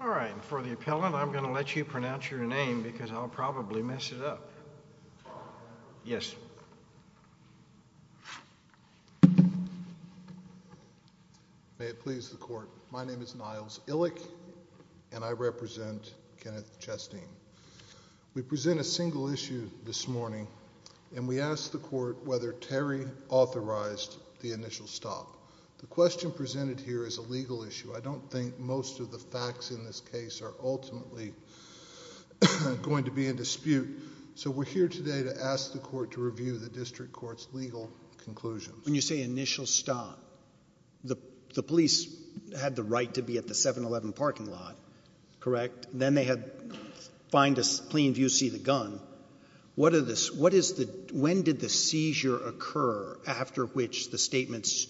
All right. For the appellant, I'm going to let you pronounce your name because I'll probably mess it up. May it please the court, my name is Niles Illick and I represent Kenneth Chasteen. We present a single issue this morning and we ask the court whether Terry authorized the initial stop. The question presented here is a legal issue. I don't think most of the facts in this case are ultimately going to be in dispute. So we're here today to ask the court to review the district court's legal conclusions. When you say initial stop, the police had the right to be at a 7-Eleven parking lot, correct? Then they had fine to plain view see the gun. When did the seizure occur after which the statements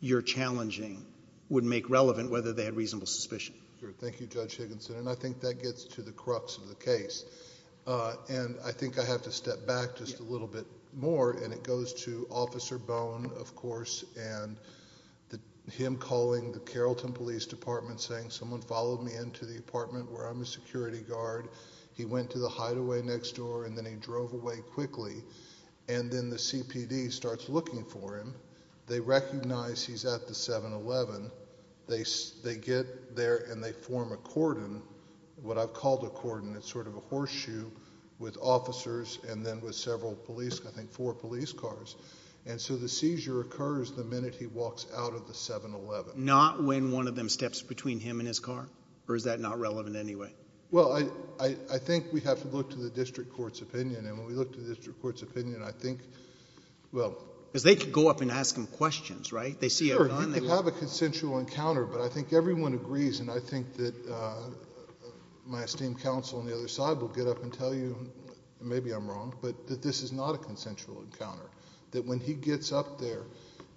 you're challenging would make relevant whether they had reasonable suspicion? Thank you, Judge Higginson, and I think that gets to the crux of the case. And I think I have to step back just a little bit more and it goes to Officer Bowen, of course, and him calling the Carrollton Police Department saying someone followed me into the apartment where I'm a security guard. He went to the hideaway next door and then he drove away quickly and then the CPD starts looking for him. They recognize he's at the 7-Eleven. They get there and they form a cordon, what I've called a cordon, it's sort of a horseshoe with officers and then with the minute he walks out of the 7-Eleven. Not when one of them steps between him and his car or is that not relevant anyway? Well, I think we have to look to the district court's opinion and when we look to the district court's opinion, I think, well... Because they could go up and ask him questions, right? They see a gun... Sure, you could have a consensual encounter, but I think everyone agrees and I think that my esteemed counsel on the other side will get up and tell you, maybe I'm wrong, but that this is not a consensual encounter. That when he gets up there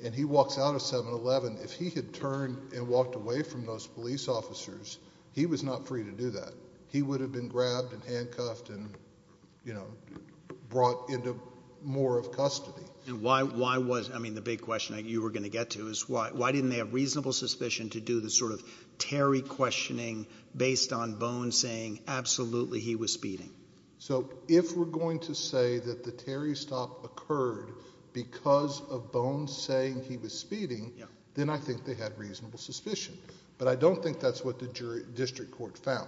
and he walks out of 7-Eleven, if he had turned and walked away from those police officers, he was not free to do that. He would have been grabbed and handcuffed and, you know, brought into more of custody. And why was... I mean, the big question you were going to get to is why didn't they have reasonable suspicion to do the sort of Terry questioning based on Bones saying absolutely he was speeding? So, if we're going to say that the Terry stop occurred because of Bones saying he was speeding, then I think they had reasonable suspicion. But I don't think that's what the district court found.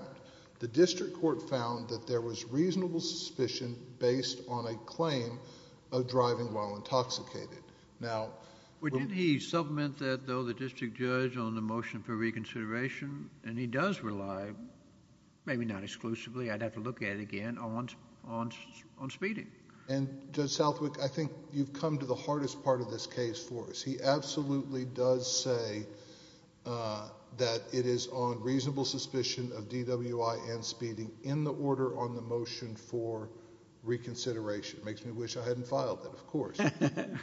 The district court found that there was reasonable suspicion based on a claim of driving while intoxicated. Now... Well, didn't he supplement that, though, the maybe not exclusively. I'd have to look at it again on speeding. And Judge Southwick, I think you've come to the hardest part of this case for us. He absolutely does say that it is on reasonable suspicion of DWI and speeding in the order on the motion for reconsideration. Makes me wish I hadn't filed it, of course.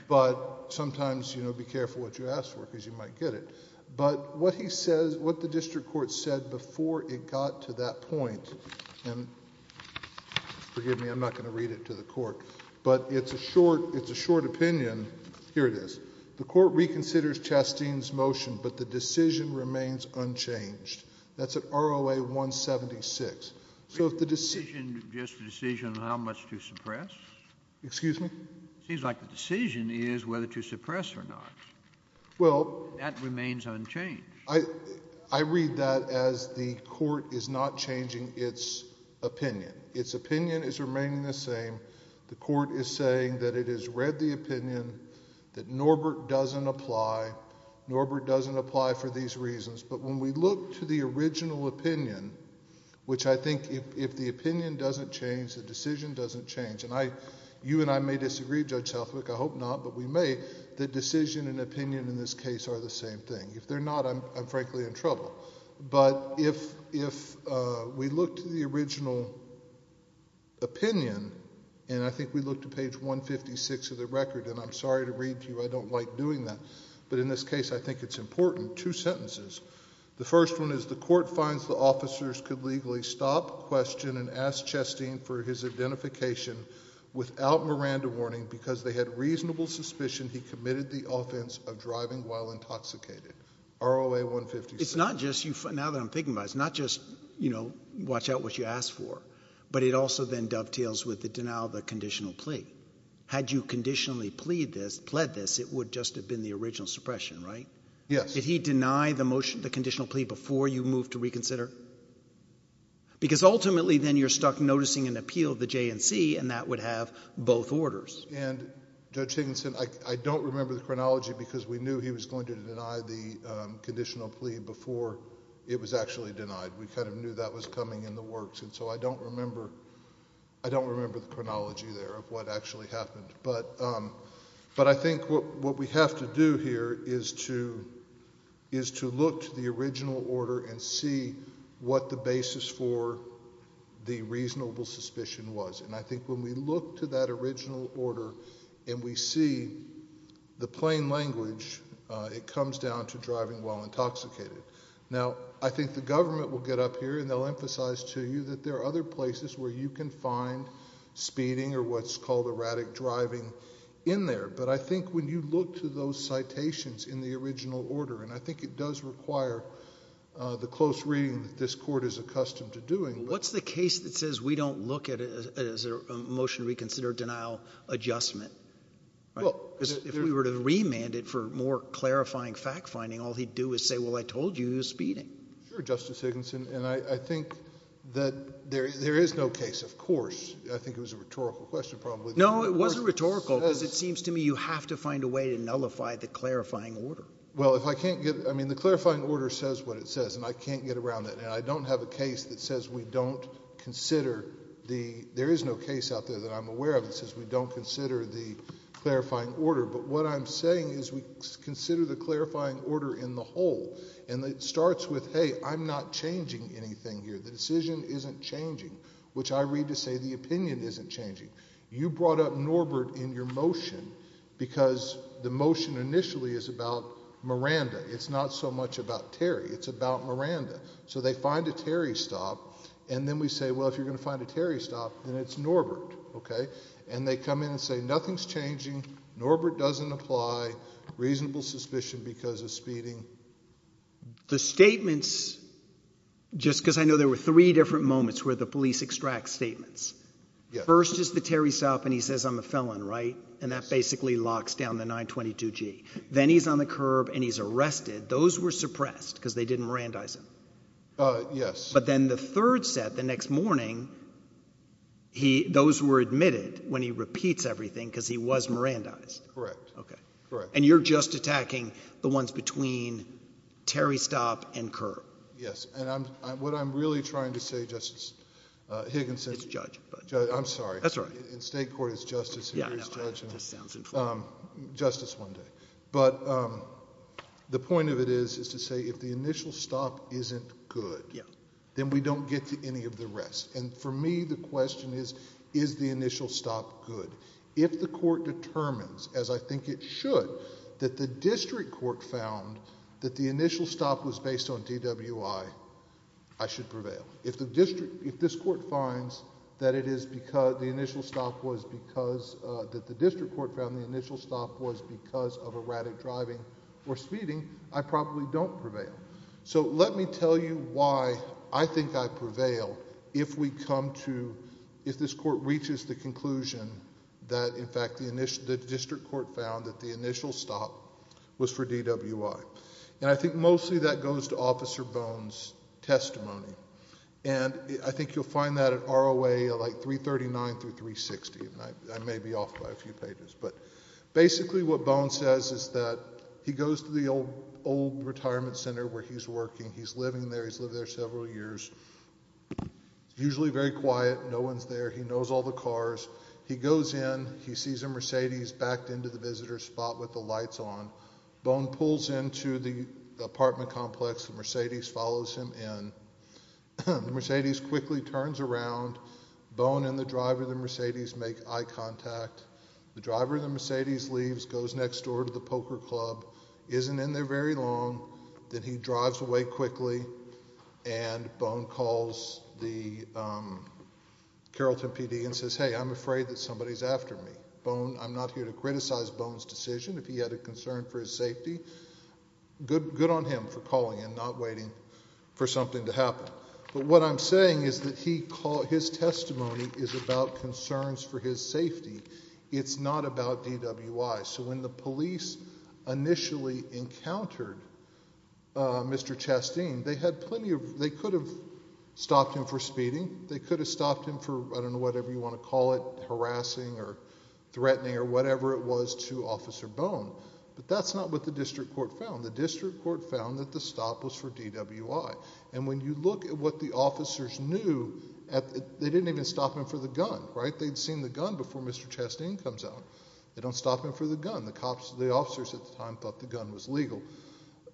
But sometimes, you know, be careful what you ask for because you might get it. But what he says, what the district court said before it got to that point, and forgive me, I'm not going to read it to the court, but it's a short, it's a short opinion. Here it is. The court reconsiders Chasteen's motion, but the decision remains unchanged. That's at ROA 176. So if the decision... Just the decision on how much to suppress? Excuse me? Seems like the decision is whether to suppress or not. Well... That remains unchanged. I read that as the court is not changing its opinion. Its opinion is remaining the same. The court is saying that it has read the opinion, that Norbert doesn't apply. Norbert doesn't apply for these reasons. But when we look to the original opinion, which I think if the opinion doesn't change, the decision doesn't change. And you and I may disagree, Judge Southwick, I hope not, but we may, that decision and opinion in this case are the same thing. If they're not, I'm frankly in trouble. But if we look to the original opinion, and I think we look to page 156 of the record, and I'm sorry to read to you, I don't like doing that. But in this case, I think it's important. Two sentences. The first one is, the court finds the officers could legally stop, question, and ask Chastain for his identification without Miranda warning because they had reasonable suspicion he committed the offense of driving while intoxicated. ROA 156. It's not just, now that I'm thinking about it, it's not just, you know, watch out what you ask for. But it also then dovetails with the denial of the conditional plea. Had you conditionally plead this, pled this, it would just have been the original suppression, right? Yes. Did he deny the motion, the conditional plea, before you moved to reconsider? Because ultimately then you're stuck noticing an appeal of the JNC, and that would have both orders. And Judge Higginson, I don't remember the chronology because we knew he was going to deny the conditional plea before it was actually denied. We kind of knew that was coming in the works. And so I don't remember, I don't remember the chronology there of what actually happened. But I think what we have to do here is to look to the original order and see what the basis for the reasonable suspicion was. And I think when we look to that original order and we see the plain language, it comes down to driving while intoxicated. Now, I think the government will get up here and they'll emphasize to you that there are other places where you can find speeding or what's called erratic driving in there. But I think when you look to those citations in the original order, and I think it does require the close reading that this court is accustomed to doing. What's the case that says we don't look at it as a motion to reconsider denial adjustment? If we were to remand it for more clarifying fact finding, all he'd do is say, well, I told you he was speeding. Sure, Justice Higginson. And I think that there is no case, of course, I think it was a rhetorical question probably. No, it wasn't rhetorical because it seems to me you have to find a way to nullify the clarifying order. Well, if I can't get, I mean, the clarifying order says what it says and I can't get around that. And I don't have a case that says we don't consider the, there is no case out there that I'm aware of that says we don't consider the clarifying order. But what I'm saying is we consider the clarifying order in the whole. And it starts with, hey, I'm not changing anything here. The decision isn't changing, which I read to say the opinion isn't changing. You brought up Norbert in your motion because the motion initially is about Miranda. It's not so much about Terry, it's about Miranda. So they find a Terry stop and then we say, well, if you're going to find a Terry stop, then it's Norbert, okay? And they come in and say nothing's changing, Norbert doesn't apply, reasonable suspicion because of speeding. The statements, just because I know there were three different moments where the police extract statements. First is the Terry stop and he says I'm a felon, right? And that basically locks down the 922G. Then he's on the curb and he's arrested. Those were suppressed because they didn't Mirandize him. Yes. But then the third set, the next morning, those were admitted when he repeats everything because he was Mirandized. Correct. Okay. And you're just attacking the ones between Terry stop and curb. Yes, and what I'm really trying to say, Justice Higginson. It's judge. I'm sorry. That's all right. In state court it's justice. Yeah, I know, it just sounds informal. Justice one day. But the point of it is, is to say if the initial stop isn't good, then we don't get to any of the rest. And for me, the question is, is the initial stop good? If the court determines, as I think it should, that the district court found that the initial stop was based on DWI, I should prevail. If this court finds that the district court found the initial stop was because of erratic driving or speeding, I probably don't prevail. So let me tell you why I think I prevail if we come to, if this court reaches the conclusion that in fact the district court found that the initial stop was for DWI. And I think mostly that goes to Officer Bone's testimony. And I think you'll find that at ROA, like 339 through 360, and I may be off by a few pages. But basically what Bone says is that he goes to the old retirement center where he's working. He's living there, he's lived there several years. Usually very quiet, no one's there, he knows all the cars. He goes in, he sees a Mercedes backed into the visitor's spot with the lights on. Bone pulls into the apartment complex, the Mercedes follows him in. The Mercedes quickly turns around. Bone and the driver of the Mercedes make eye contact. The driver of the Mercedes leaves, goes next door to the poker club, isn't in there very long, then he drives away quickly. And Bone calls the Carrollton PD and says, hey, I'm afraid that somebody's after me. Bone, I'm not here to criticize Bone's decision, if he had a concern for his safety. Good on him for calling and not waiting for something to happen. But what I'm saying is that his testimony is about concerns for his safety. It's not about DWI. So when the police initially encountered Mr. Chasteen, they could have stopped him for speeding. They could have stopped him for, I don't know, whatever you want to call it, harassing or threatening or whatever it was to Officer Bone. But that's not what the district court found. The district court found that the stop was for DWI. And when you look at what the officers knew, they didn't even stop him for the gun, right? They'd seen the gun before Mr. Chasteen comes out. They don't stop him for the gun. The officers at the time thought the gun was legal.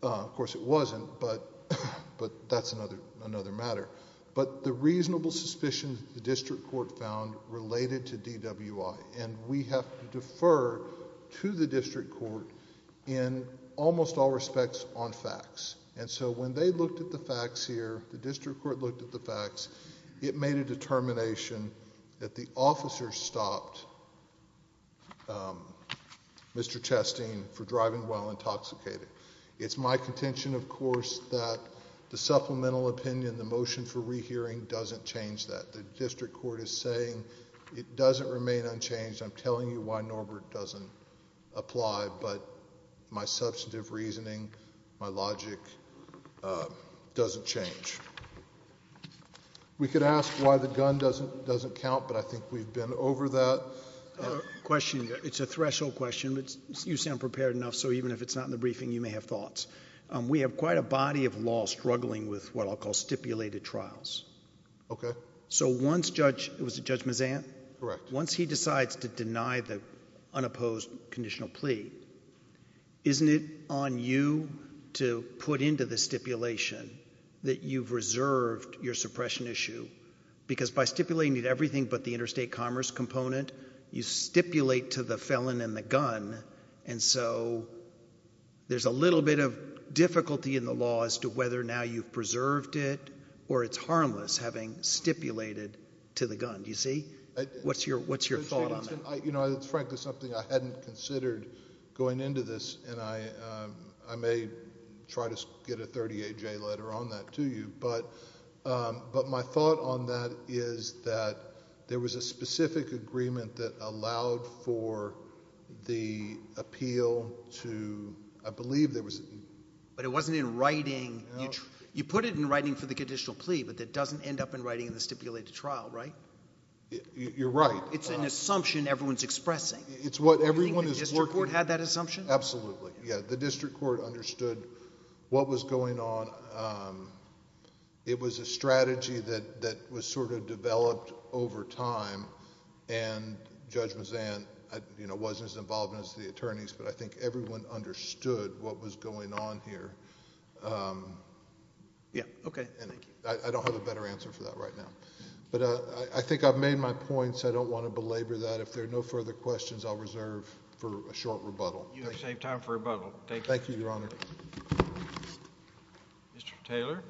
Of course it wasn't, but that's another matter. But the reasonable suspicions the district court found related to DWI. And we have to defer to the district court in almost all respects on facts. And so when they looked at the facts here, the district court looked at the facts, it made a determination that the officers stopped Mr. Chasteen for driving while intoxicated. It's my contention, of course, that the supplemental opinion, the motion for rehearing doesn't change that. The district court is saying it doesn't remain unchanged. I'm telling you why Norbert doesn't apply, but my substantive reasoning, my logic doesn't change. We could ask why the gun doesn't count, but I think we've been over that. Question, it's a threshold question, but you sound prepared enough, so even if it's not in the briefing, you may have thoughts. We have quite a body of law struggling with what I'll call stipulated trials. Okay. So once Judge, was it Judge Mazant? Correct. Once he decides to deny the unopposed conditional plea, isn't it on you to put into the stipulation that you've reserved your suppression issue? Because by stipulating everything but the interstate commerce component, you stipulate to the felon and the gun. And so, there's a little bit of difficulty in the law as to whether now you've preserved it, or it's harmless having stipulated to the gun, do you see? What's your thought on that? You know, it's frankly something I hadn't considered going into this, and I may try to get a 38-J letter on that to you. But my thought on that is that there was a specific agreement that allowed for the appeal to, I believe there was- But it wasn't in writing. You put it in writing for the conditional plea, but it doesn't end up in writing in the stipulated trial, right? You're right. It's an assumption everyone's expressing. It's what everyone is working- Do you think the district court had that assumption? Absolutely, yeah. The district court understood what was going on. It was a strategy that was sort of developed over time, and Judge Mazzan, you know, wasn't as involved as the attorneys, but I think everyone understood what was going on here. Yeah, okay, thank you. I don't have a better answer for that right now. But I think I've made my points. I don't want to belabor that. If there are no further questions, I'll reserve for a short rebuttal. You saved time for a rebuttal. Thank you, Your Honor. Mr. Taylor?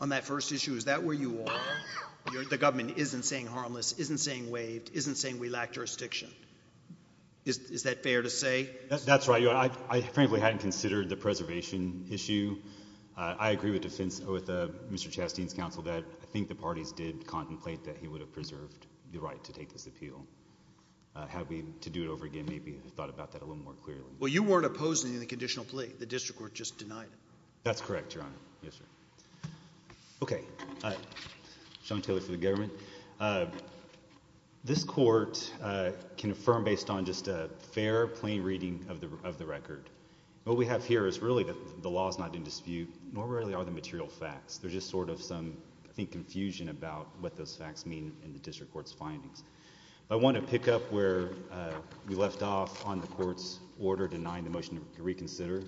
On that first issue, is that where you are? The government isn't saying harmless, isn't saying waived, isn't saying we lack jurisdiction. Is that fair to say? That's right, Your Honor. I frankly hadn't considered the preservation issue. I agree with Mr. Chastain's counsel that I think the parties did deserve the right to take this appeal. Had we, to do it over again, maybe thought about that a little more clearly. Well, you weren't opposing the conditional plea. The district court just denied it. That's correct, Your Honor. Yes, sir. Okay, Sean Taylor for the government. This court can affirm based on just a fair, plain reading of the record. What we have here is really that the law is not in dispute, nor really are the material facts. There's just sort of some, I think, confusion about what those facts mean in the district court's findings. I want to pick up where we left off on the court's order denying the motion to reconsider,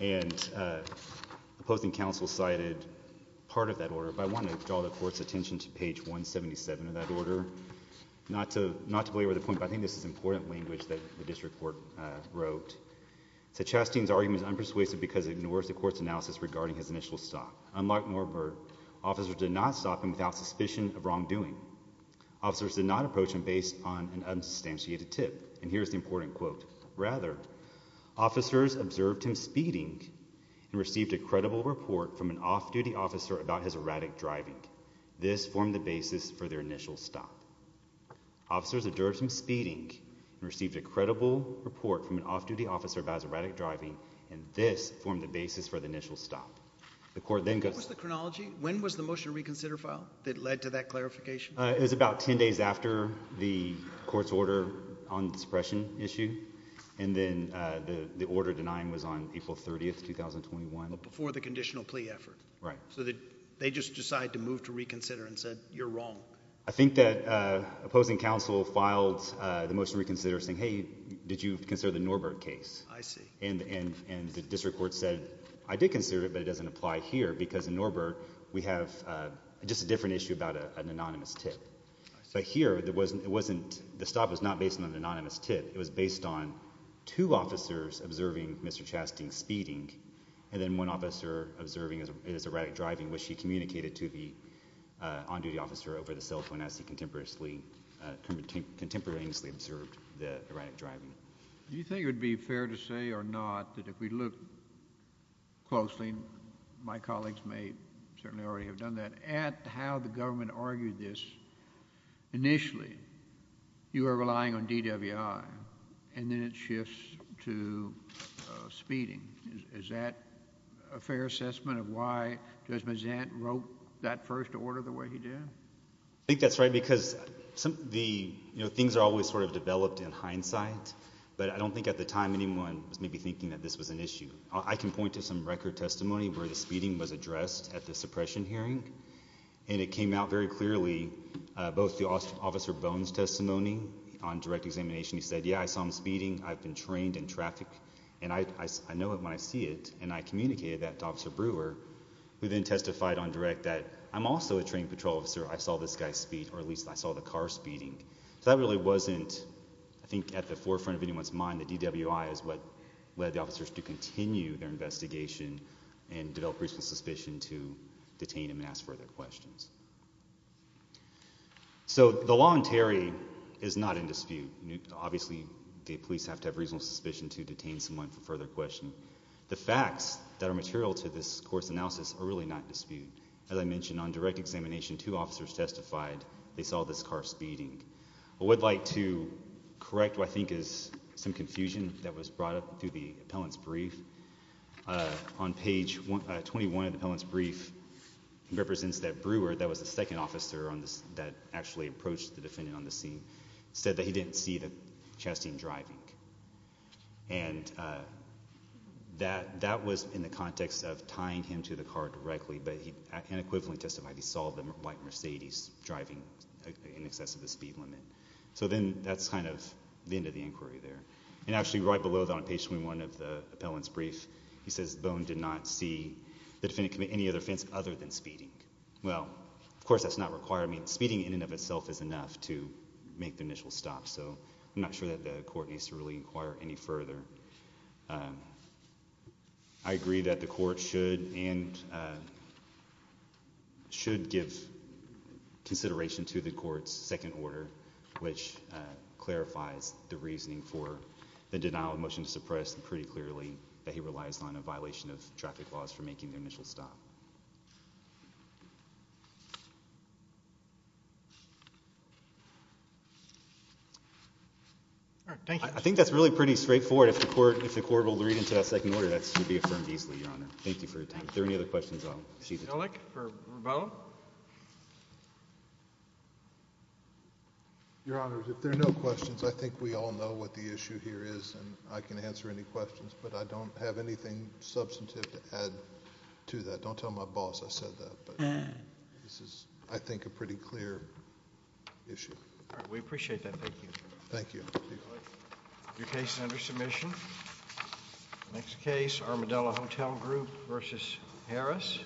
and opposing counsel cited part of that order. But I want to draw the court's attention to page 177 of that order. Not to, not to belabor the point, but I think this is important language that the district court wrote. So Chastain's argument is unpersuasive because it ignores the court's analysis regarding his initial stop. Unlike Morber, officers did not stop him without suspicion of wrongdoing. Officers did not approach him based on an unsubstantiated tip. And here's the important quote. Rather, officers observed him speeding and received a credible report from an off-duty officer about his erratic driving. This formed the basis for their initial stop. Officers observed him speeding and received a credible report from an off-duty officer about his erratic driving. And this formed the basis for the initial stop. The court then goes- What was the chronology? When was the motion reconsider filed that led to that clarification? It was about ten days after the court's order on the suppression issue. And then the order denying was on April 30th, 2021. Before the conditional plea effort. Right. So they just decided to move to reconsider and said, you're wrong. I think that opposing counsel filed the motion reconsider saying, hey, did you consider the Norbert case? I see. And the district court said, I did consider it, but it doesn't apply here. Because in Norbert, we have just a different issue about an anonymous tip. So here, the stop was not based on an anonymous tip. It was based on two officers observing Mr. Chasting speeding. And then one officer observing his erratic driving, which he communicated to the on-duty officer over the cell phone as he contemporaneously observed the erratic driving. Do you think it would be fair to say or not that if we look closely, my colleagues may certainly already have done that, at how the government argued this initially, you are relying on DWI, and then it shifts to speeding. Is that a fair assessment of why Judge Mazant wrote that first order the way he did? I think that's right, because the, you know, things are always sort of developed in hindsight. But I don't think at the time anyone was maybe thinking that this was an issue. I can point to some record testimony where the speeding was addressed at the suppression hearing. And it came out very clearly, both the Officer Bones' testimony on direct examination. He said, yeah, I saw him speeding. I've been trained in traffic. And I know it when I see it. And I communicated that to Officer Brewer, who then testified on direct that, I'm also a trained patrol officer. I saw this guy speed, or at least I saw the car speeding. So that really wasn't, I think, at the forefront of anyone's mind. The DWI is what led the officers to continue their investigation and develop reasonable suspicion to detain him and ask further questions. So the law in Terry is not in dispute. Obviously, the police have to have reasonable suspicion to detain someone for further questioning. The facts that are material to this court's analysis are really not in dispute. As I mentioned, on direct examination, two officers testified they saw this car speeding. I would like to correct what I think is some confusion that was brought up through the appellant's brief. On page 21 of the appellant's brief, it represents that Brewer, that was the second officer that actually approached the defendant on the scene, said that he didn't see the Chastain driving. And that was in the context of tying him to the car directly. But he unequivocally testified he saw the white Mercedes driving in excess of the speed limit. So then that's kind of the end of the inquiry there. And actually, right below that on page 21 of the appellant's brief, he says Bone did not see the defendant commit any other offense other than speeding. Well, of course, that's not required. I mean, speeding in and of itself is enough to make the initial stop. So I'm not sure that the court needs to really inquire any further. I agree that the court should give consideration to the court's second order, which clarifies the reasoning for the denial of motion to suppress, and pretty clearly, that he relies on a violation of traffic laws for making the initial stop. I think that's really pretty straightforward. If the court will read into that second order, that should be affirmed easily, Your Honor. Thank you for your time. If there are any other questions, I'll cease the time. Ehrlich for Rovello? Your Honor, if there are no questions, I think we all know what the issue here is. And I can answer any questions. But I don't have anything substantive to add to that. Don't tell my boss I said that. But this is, I think, a pretty clear issue. We appreciate that. Thank you. Thank you. Your case is under submission. Next case, Armadillo Hotel Group versus Harris.